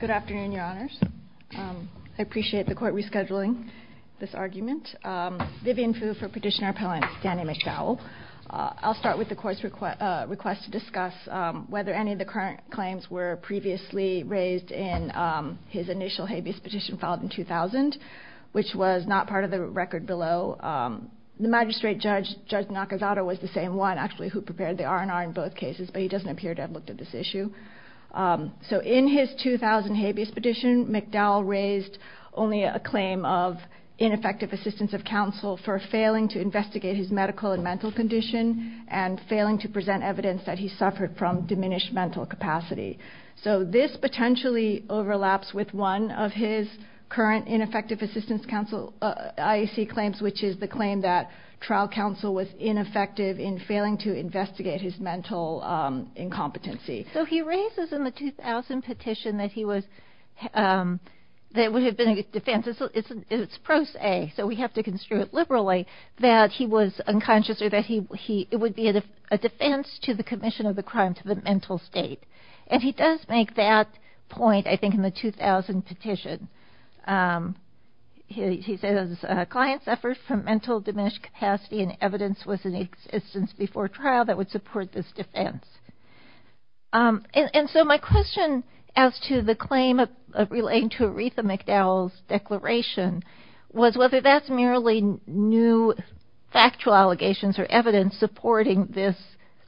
Good afternoon, Your Honors. I appreciate the court rescheduling this argument. Vivian Fu for Petitioner Appellant, Danny McDowell. I'll start with the court's request to discuss whether any of the current claims were previously raised in his initial habeas petition filed in 2000, which was not part of the record below. The magistrate judge, Judge Nakazato, was the same one, actually, who prepared the R&R in both cases, but he doesn't appear to have looked at this issue. So in his 2000 habeas petition, McDowell raised only a claim of ineffective assistance of counsel for failing to investigate his medical and mental condition and failing to present evidence that he suffered from diminished mental capacity. So this potentially overlaps with one of his current ineffective assistance counsel IAC claims, which is the claim that trial counsel was ineffective in failing to investigate his mental incompetency. So he raises in the 2000 petition that he was, that it would have been a defense, it's pro se, so we have to construe it liberally, that he was unconscious or that it would be a defense to the commission of the crime to the mental state. And he does make that point, I think, in the 2000 petition. He says, clients suffered from mental diminished capacity and evidence was in existence before trial that would support this defense. And so my question as to the claim of relating to Aretha McDowell's declaration was whether that's merely new factual allegations or evidence supporting this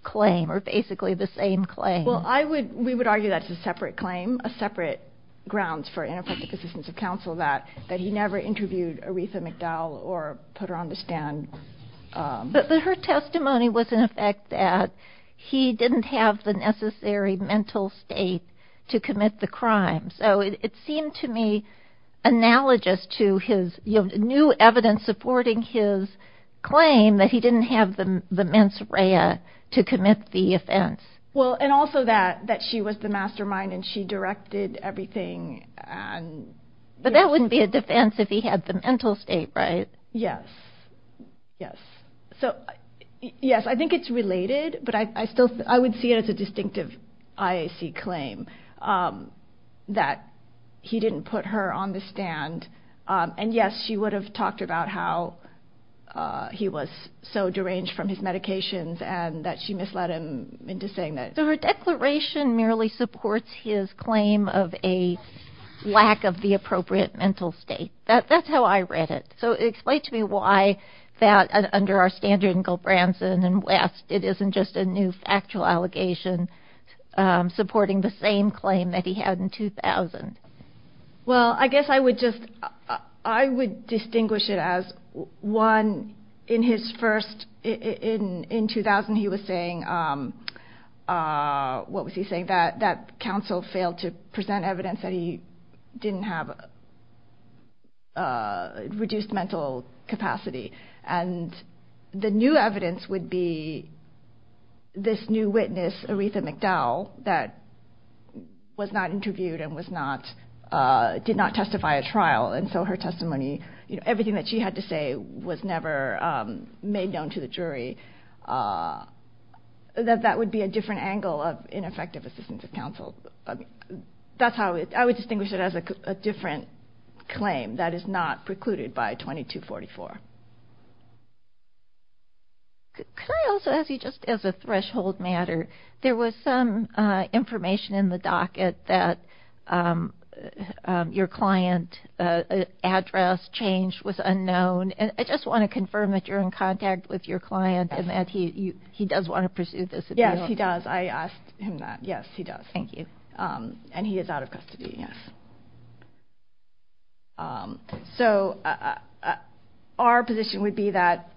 claim or basically the same claim. Well, we would argue that's a separate claim, separate grounds for ineffective assistance of counsel, that he never interviewed Aretha McDowell or put her on the stand. But her testimony was in effect that he didn't have the necessary mental state to commit the crime. So it seemed to me analogous to his new evidence supporting his claim that he didn't have the mens rea to commit the offense. Well, and also that she was the mastermind and she directed everything. But that wouldn't be a defense if he had the mental state, right? Yes, yes. So yes, I think it's related, but I would see it as a distinctive IAC claim that he didn't put her on the stand. And yes, she would have talked about how he was so deranged from his medications and that she misled him into saying that. So her declaration merely supports his claim of a lack of the appropriate mental state. That's how I read it. So explain to me why that, under our standard in Gilbranson and West, it isn't just a new factual allegation supporting the same claim that he had in 2000. Well, I guess I would just, I would distinguish it as one, in his first, in 2000 he was saying, what was he saying, that counsel failed to present evidence that he didn't have reduced mental capacity. And the new evidence would be this new witness, Aretha McDowell, that was not interviewed and was not, did not testify at trial, and so her testimony, everything that she had to say was never made known to the jury. That that would be a different angle of ineffective assistance of counsel. That's how, I would distinguish it as a different claim that is not precluded by 2244. Could I also ask you, just as a threshold matter, there was some information in the docket that your client address change was unknown, and I just want to confirm that you're in contact with your client and that he does want to pursue this. Yes, he does. I asked him that. Yes, he does. Thank you. And he is out of custody, yes. So our position would be that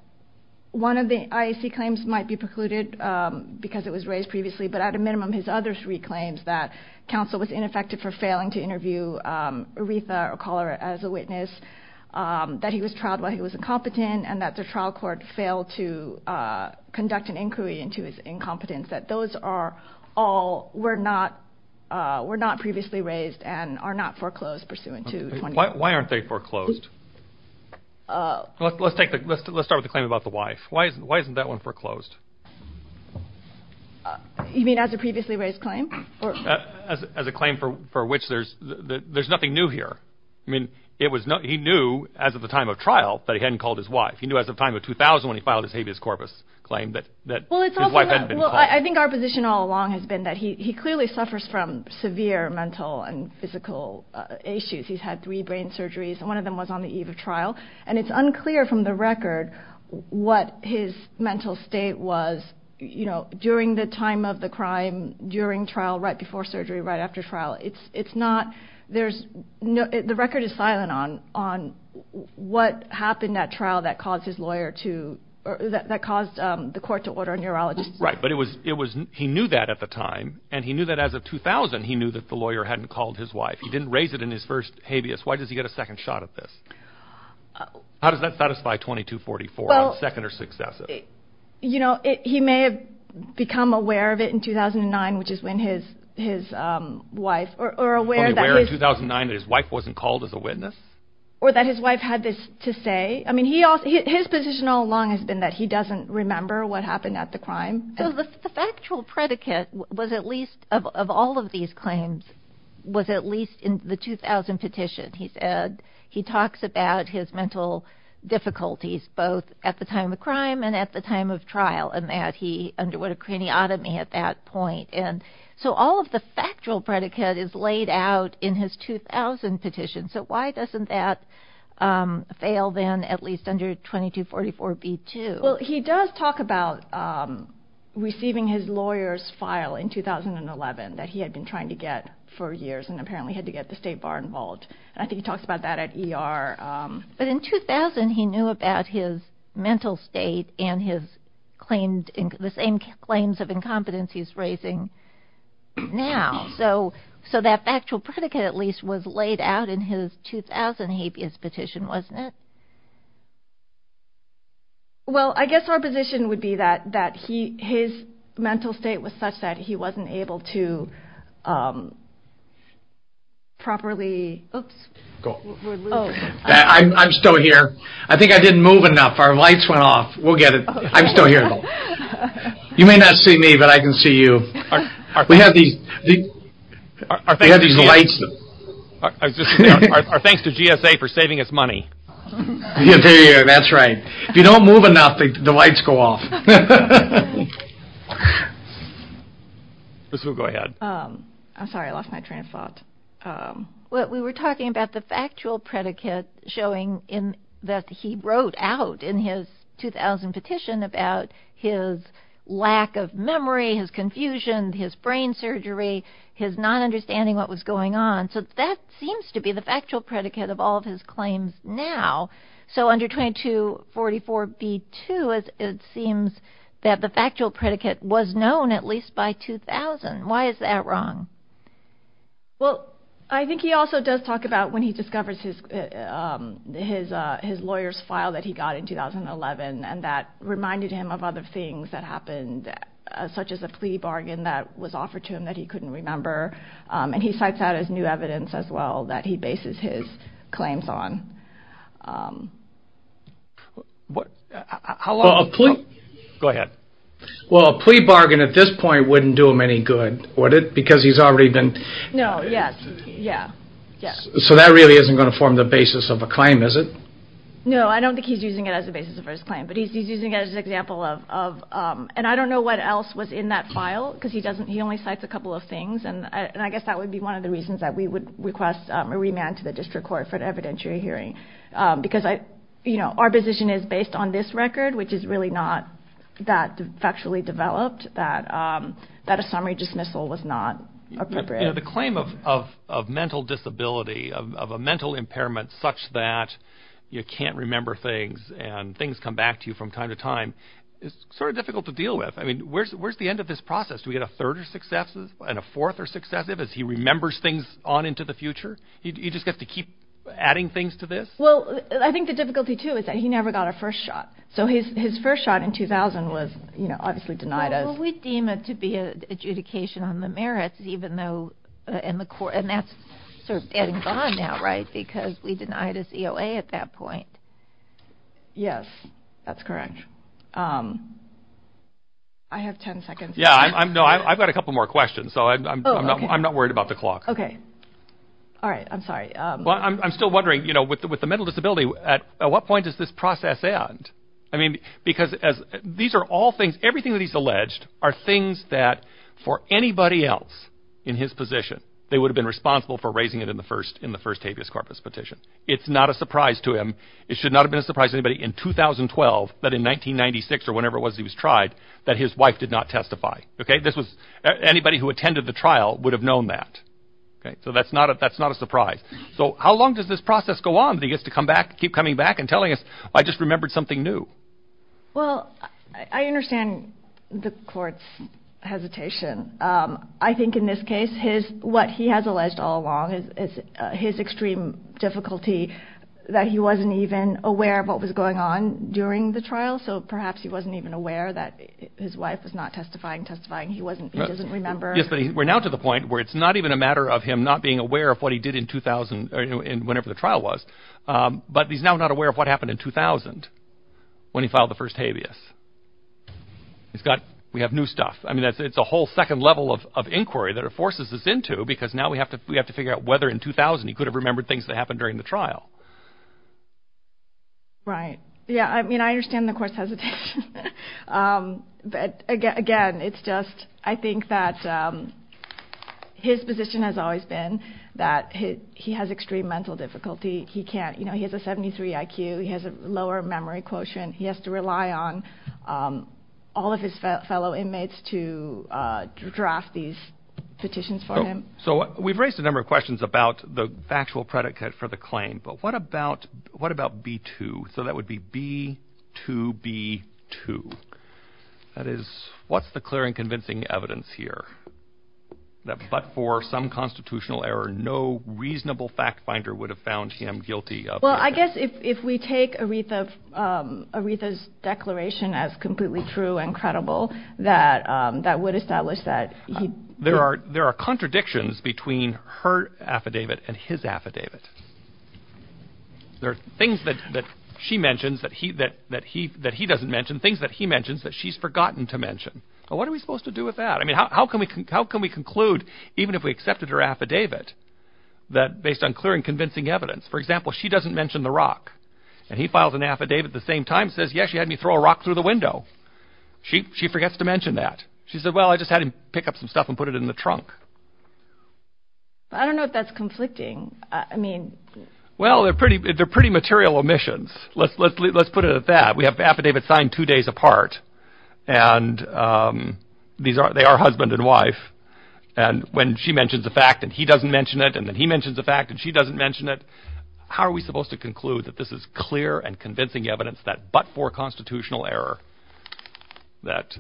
one of the IAC claims might be precluded because it was raised previously, but at a minimum his other three claims, that counsel was ineffective for failing to interview Aretha or call her as a witness, that he was trialed while he was incompetent, and that the trial court failed to conduct an inquiry into his incompetence, that those are all were not previously raised and are not foreclosed pursuant to 2244. Why aren't they foreclosed? Let's start with the claim about the wife. Why isn't that one foreclosed? You mean as a previously raised claim? As a claim for which there's nothing new here. I mean, he knew as of the time of trial that he hadn't called his wife. He knew as of the time of 2000 when he filed his habeas corpus claim that his wife hadn't been called. Well, I think our position all along has been that he clearly suffers from severe mental and physical issues. He's had three brain surgeries, and one of them was on the eve of trial, and it's unclear from the record what his mental state was, during the time of the crime, during trial, right before surgery, right after trial. The record is silent on what happened at trial that caused the court to order a neurologist. Right, but he knew that at the time, and he knew that as of 2000, he knew that the lawyer hadn't called his wife. He didn't raise it in his first habeas. Why does he get a second shot at this? How does that satisfy 2244, a second or successive? You know, he may have become aware of it in 2009, which is when his wife, or aware that his... He was aware in 2009 that his wife wasn't called as a witness? Or that his wife had this to say. I mean, his position all along has been that he doesn't remember what happened at the crime. The factual predicate was at least, of all of these claims, was at least in the 2000 petition. He talks about his mental difficulties, both at the time of crime and at the time of trial, and that he underwent a craniotomy at that point. So all of the factual predicate is laid out in his 2000 petition. So why doesn't that fail then, at least under 2244b-2? Well, he does talk about receiving his lawyer's file in 2011, that he had been trying to get for years and apparently had to get the state bar involved. I think he talks about that at ER. But in 2000, he knew about his mental state and the same claims of incompetence he's raising now. So that factual predicate, at least, was laid out in his 2000 habeas petition, wasn't it? Well, I guess our position would be that his mental state was such that he wasn't able to properly... I'm still here. I think I didn't move enough. Our lights went off. We'll get it. I'm still here. You may not see me, but I can see you. We have these lights. Our thanks to GSA for saving us money. That's right. If you don't move enough, the lights go off. Liz, we'll go ahead. I'm sorry. I lost my train of thought. We were talking about the factual predicate showing that he wrote out in his 2000 petition about his lack of memory, his confusion, his brain surgery, his not understanding what was going on. So that seems to be the factual predicate of all of his claims now. So under 2244b2, it seems that the factual predicate was known at least by 2000. Why is that wrong? Well, I think he also does talk about when he discovers his lawyer's file that he got in 2011. And that reminded him of other things that happened, such as a plea bargain that was offered to him that he couldn't remember. And he cites that as new evidence as well that he bases his claims on. Go ahead. Well, a plea bargain at this point wouldn't do him any good, would it? Because he's already been... No, yes. Yeah. So that really isn't going to form the basis of a claim, is it? No, I don't think he's using it as a basis for his claim. But he's using it as an example of... And I don't know what else was in that file because he only cites a couple of things. And I guess that would be one of the reasons that we would request a remand to the district court for an evidentiary hearing. Because our position is based on this record, which is really not that factually developed, that a summary dismissal was not appropriate. You know, the claim of mental disability, of a mental impairment such that you can't remember things and things come back to you from time to time is sort of difficult to deal with. I mean, where's the end of this process? Do we get a third or successive and a fourth or successive as he remembers things on into the future? You just have to keep adding things to this? Well, I think the difficulty, too, is that he never got a first shot. So his first shot in 2000 was, you know, obviously denied us. We deem it to be an adjudication on the merits, even though in the court, and that's sort of getting gone now, right, because we denied us EOA at that point. Yes, that's correct. I have 10 seconds. Yeah, I've got a couple more questions, so I'm not worried about the clock. Okay. All right. I'm sorry. Well, I'm still wondering, you know, with the mental disability, at what point does this process end? I mean, because as these are all things, everything that he's alleged are things that for anybody else in his position, they would have been responsible for raising it in the first in the first habeas corpus petition. It's not a surprise to him. It should not have been surprising, but in 2012, but in 1996 or whenever it was, he was tried that his wife did not testify. Okay. This was anybody who attended the trial would have known that. So that's not a that's not a surprise. So how long does this process go on? He gets to come back, keep coming back and telling us, I just remembered something new. Well, I understand the court's hesitation. I think in this case, his what he has alleged all along is his extreme difficulty, that he wasn't even aware of what was going on during the trial. So perhaps he wasn't even aware that his wife was not testifying, testifying. He wasn't he doesn't remember. Yes, but we're now to the point where it's not even a matter of him not being aware of what he did in 2000 and whenever the trial was. But he's now not aware of what happened in 2000 when he filed the first habeas. He's got we have new stuff. I mean, that's it's a whole second level of inquiry that it forces us into, because now we have to we have to figure out whether in 2000 he could have remembered things that happened during the trial. Right. Yeah. I mean, I understand the court's hesitation. But again, again, it's just I think that his position has always been that he has extreme mental difficulty. He can't you know, he has a 73 IQ. He has a lower memory quotient. He has to rely on all of his fellow inmates to draft these petitions for him. So we've raised a number of questions about the actual predicate for the claim. But what about what about B2? So that would be B2 B2. That is what's the clear and convincing evidence here that but for some constitutional error, no reasonable fact finder would have found him guilty. Well, I guess if we take a wreath of a wreath as declaration as completely true and credible, that that would establish that. There are there are contradictions between her affidavit and his affidavit. There are things that she mentions that he that that he that he doesn't mention things that he mentions that she's forgotten to mention. What are we supposed to do with that? I mean, how can we how can we conclude, even if we accepted her affidavit that based on clear and convincing evidence, for example, she doesn't mention the rock and he files an affidavit at the same time says, yes, she had me throw a rock through the window. She she forgets to mention that she said, well, I just had to pick up some stuff and put it in the trunk. I don't know if that's conflicting. I mean, well, they're pretty they're pretty material omissions. Let's let's let's put it at that. We have affidavit signed two days apart. And these are they are husband and wife. And when she mentions the fact that he doesn't mention it and then he mentions the fact that she doesn't mention it. How are we supposed to conclude that this is clear and convincing evidence that but for constitutional error, that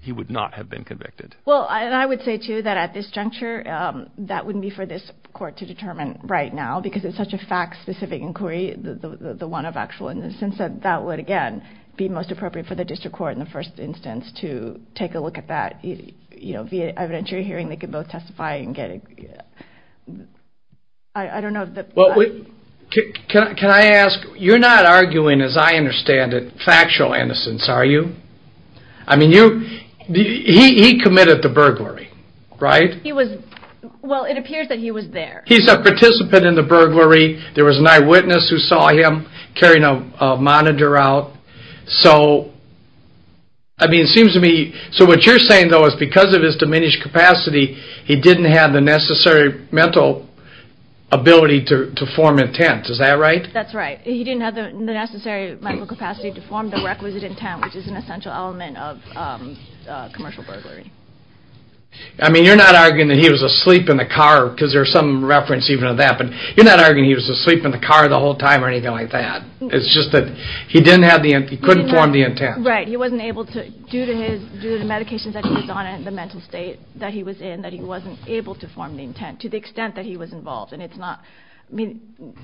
he would not have been convicted? Well, I would say to you that at this juncture, that wouldn't be for this court to determine right now because it's such a fact specific inquiry. The one of actual innocence said that would, again, be most appropriate for the district court in the first instance to take a look at that, you know, via evidentiary hearing, they could both testify and get it. I don't know. Can I ask you're not arguing, as I understand it, factual innocence, are you? I mean, you he committed the burglary, right? He was. Well, it appears that he was there. He's a participant in the burglary. There was an eyewitness who saw him carrying a monitor out. So. I mean, it seems to me. So what you're saying, though, is because of his diminished capacity, he didn't have the necessary mental ability to form intent. Is that right? That's right. He didn't have the necessary medical capacity to form the requisite intent, which is an essential element of commercial burglary. I mean, you're not arguing that he was asleep in the car because there's some reference even to that. But you're not arguing he was asleep in the car the whole time or anything like that. It's just that he didn't have the he couldn't form the intent. Right. He wasn't able to due to his due to the medications that he was on and the mental state that he was in, that he wasn't able to form the intent to the extent that he was involved. And it's not I mean,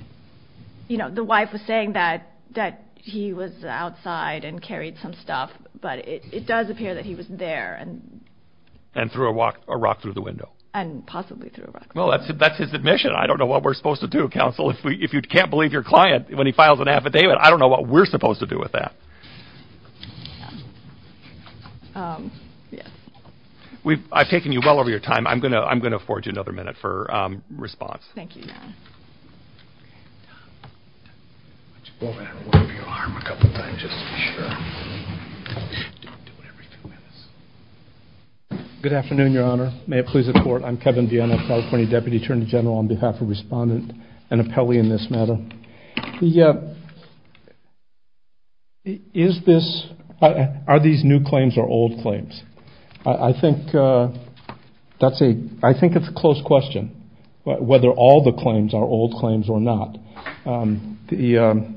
you know, the wife was saying that that he was outside and carried some stuff. But it does appear that he was there and and through a walk, a rock through the window and possibly through. Well, that's it. That's his admission. I don't know what we're supposed to do. Counsel, if we if you can't believe your client when he files an affidavit. I don't know what we're supposed to do with that. We've taken you well over your time. I'm going to I'm going to afford you another minute for response. Thank you. Good afternoon, Your Honor. May it please the court. I'm Kevin Vienna, California deputy attorney general on behalf of respondent and appellee in this matter. Yeah. Is this are these new claims or old claims? I think that's a I think it's a close question. But whether all the claims are old claims or not, the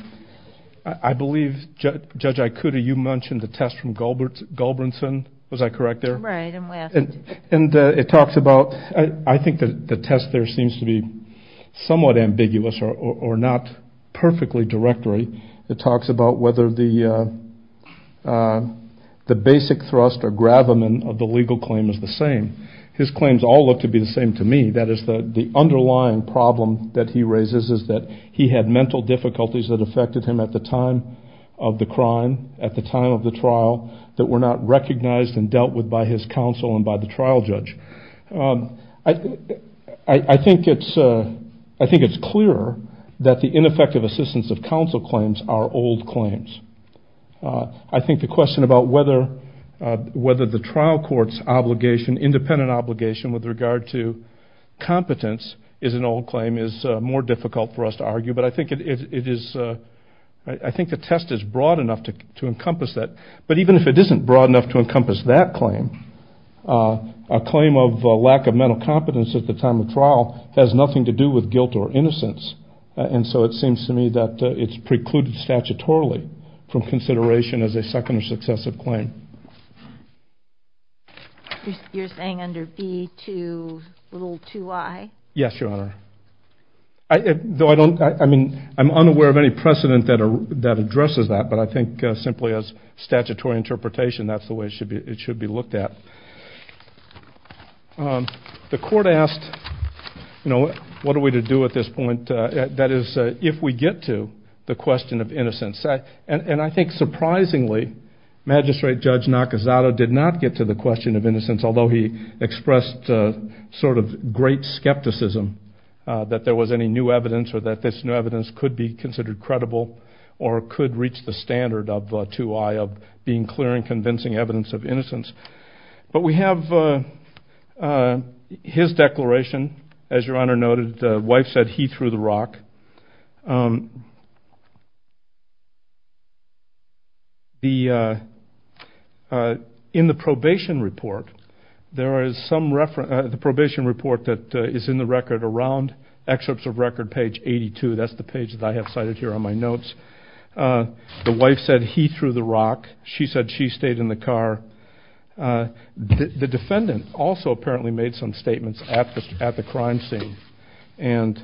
I believe, Judge, I could. Are you mentioned the test from Gilbert? Galbraithson? Was I correct there? And it talks about I think that the test there seems to be somewhat ambiguous or not perfectly directory. It talks about whether the the basic thrust or gravamen of the legal claim is the same. His claims all look to be the same to me. That is the underlying problem that he raises is that he had mental difficulties that affected him at the time of the crime, at the time of the trial that were not recognized and dealt with by his counsel and by the trial judge. I think it's I think it's clear that the ineffective assistance of counsel claims are old claims. I think the question about whether whether the trial court's obligation, independent obligation with regard to competence is an old claim is more difficult for us to argue. But I think it is. I think the test is broad enough to encompass that. But even if it isn't broad enough to encompass that claim, a claim of lack of mental competence at the time of trial has nothing to do with guilt or innocence. And so it seems to me that it's precluded statutorily from consideration as a second or successive claim. You're saying under B to little 2i? Yes, Your Honor. Though I don't I mean, I'm unaware of any precedent that that addresses that. But I think simply as statutory interpretation, that's the way it should be. It should be looked at. The court asked, you know, what are we to do at this point? That is, if we get to the question of innocence. And I think surprisingly, Magistrate Judge Nakazato did not get to the question of innocence, although he expressed sort of great skepticism that there was any new evidence or that this new evidence could be considered credible or could reach the standard of 2i of being clear and convincing evidence of innocence. But we have his declaration, as Your Honor noted, the wife said he threw the rock. In the probation report, there is some reference, the probation report that is in the record around, excerpts of record page 82, that's the page that I have cited here on my notes. The wife said he threw the rock. She said she stayed in the car. The defendant also apparently made some statements at the crime scene. And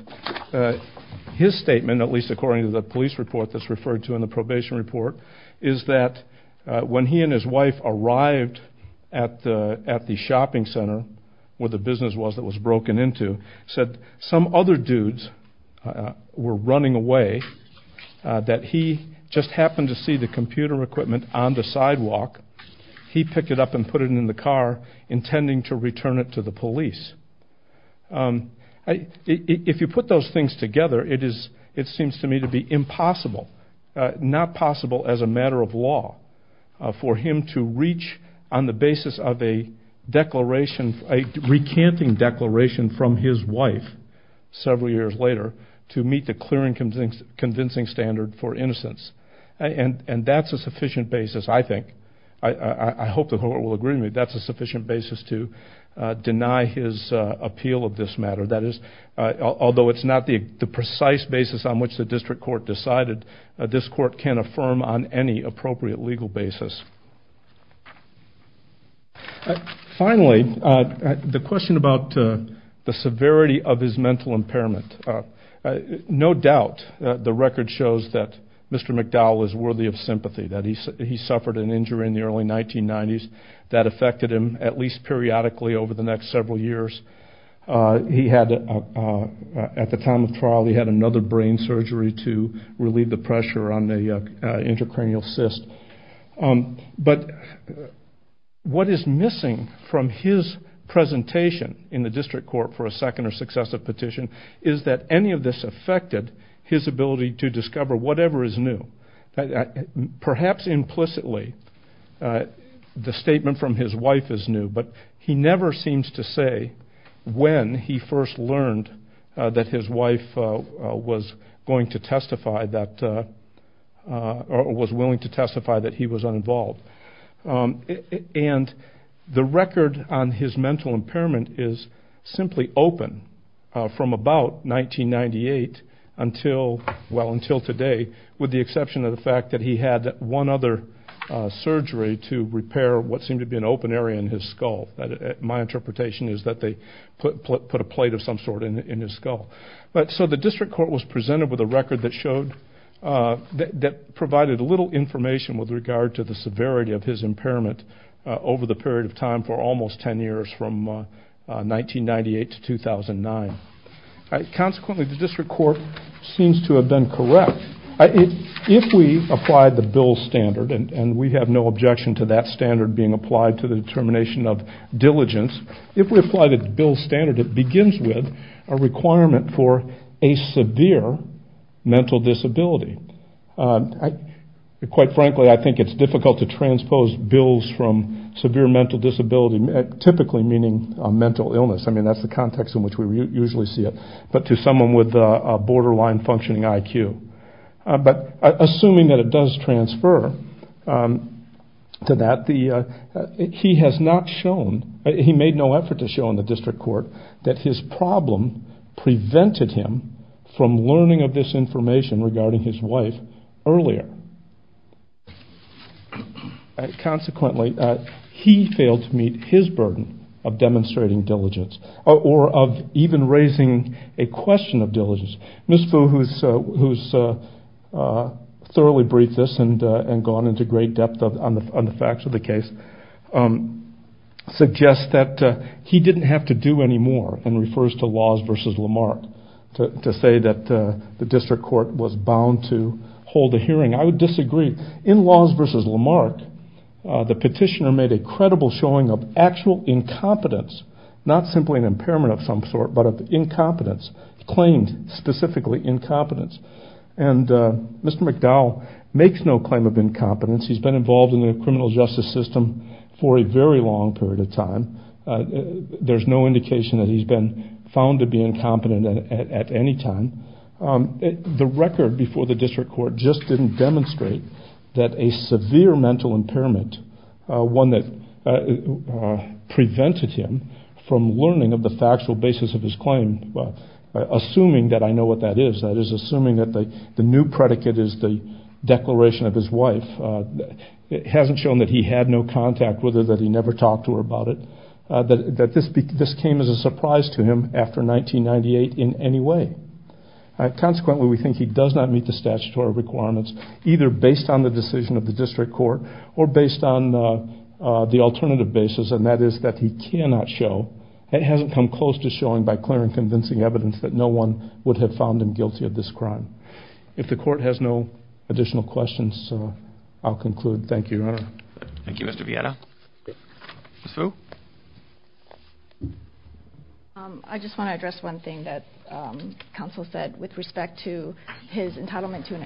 his statement, at least according to the police report that's referred to in the probation report, is that when he and his wife arrived at the shopping center, where the business was that was broken into, said some other dudes were running away, that he just happened to see the computer equipment on the sidewalk. He picked it up and put it in the car, intending to return it to the police. If you put those things together, it seems to me to be impossible, not possible as a matter of law, for him to reach on the basis of a recanting declaration from his wife several years later to meet the clear and convincing standard for innocence. And that's a sufficient basis, I think, I hope the court will agree with me, that's a sufficient basis to deny his appeal of this matter. That is, although it's not the precise basis on which the district court decided, this court can affirm on any appropriate legal basis. Finally, the question about the severity of his mental impairment. No doubt the record shows that Mr. McDowell is worthy of sympathy, that he suffered an injury in the early 1990s that affected him at least periodically over the next several years. At the time of trial, he had another brain surgery to relieve the pressure on the intracranial cyst. But what is missing from his presentation in the district court for a second or successive petition is that any of this affected his ability to discover whatever is new. Perhaps implicitly, the statement from his wife is new, but he never seems to say when he first learned that his wife was willing to testify that he was uninvolved. And the record on his mental impairment is simply open from about 1998 until today, with the exception of the fact that he had one other surgery to repair what seemed to be an open area in his skull. My interpretation is that they put a plate of some sort in his skull. So the district court was presented with a record that provided little information with regard to the severity of his impairment over the period of time for almost 10 years from 1998 to 2009. Consequently, the district court seems to have been correct. If we apply the Bill's standard, and we have no objection to that standard being applied to the determination of diligence, if we apply the Bill's standard, it begins with a requirement for a severe mental disability. Quite frankly, I think it's difficult to transpose bills from severe mental disability, typically meaning a mental illness. I mean, that's the context in which we usually see it, but to someone with a borderline functioning IQ. But assuming that it does transfer to that, he has not shown, he made no effort to show in the district court, that his problem prevented him from learning of this information regarding his wife earlier. Consequently, he failed to meet his burden of demonstrating diligence, or of even raising a question of diligence. Ms. Fu, who has thoroughly briefed this and gone into great depth on the facts of the case, suggests that he didn't have to do any more, and refers to Laws v. Lamarck to say that the district court was bound to hold a hearing. I would disagree. In Laws v. Lamarck, the petitioner made a credible showing of actual incompetence, not simply an impairment of some sort, but of incompetence, claimed specifically incompetence. And Mr. McDowell makes no claim of incompetence. He's been involved in the criminal justice system for a very long period of time. There's no indication that he's been found to be incompetent at any time. The record before the district court just didn't demonstrate that a severe mental impairment, one that prevented him from learning of the factual basis of his claim, assuming that I know what that is, that is assuming that the new predicate is the declaration of his wife, hasn't shown that he had no contact with her, that he never talked to her about it, that this came as a surprise to him after 1998 in any way. Consequently, we think he does not meet the statutory requirements, either based on the decision of the district court, or based on the alternative basis, and that is that he cannot show, and hasn't come close to showing by clear and convincing evidence, that no one would have found him guilty of this crime. If the court has no additional questions, I'll conclude. Thank you, Your Honor. Thank you, Mr. Vieira. Ms. Fu? I just want to address one thing that counsel said with respect to his entitlement to an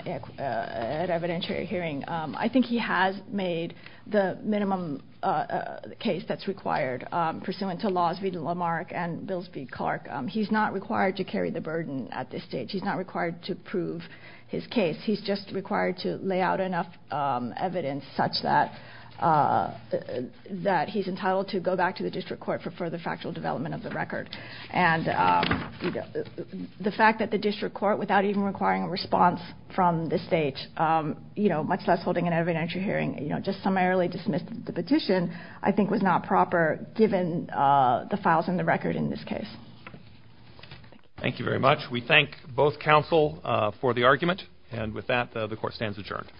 evidentiary hearing. I think he has made the minimum case that's required, pursuant to laws v. Lamarck and bills v. Clark. He's not required to carry the burden at this stage. He's not required to prove his case. He's just required to lay out enough evidence such that he's entitled to go back to the district court for further factual development of the record. And the fact that the district court, without even requiring a response from the state, much less holding an evidentiary hearing, just summarily dismissed the petition, I think was not proper, given the files in the record in this case. Thank you very much. We thank both counsel for the argument. And with that, the court stands adjourned.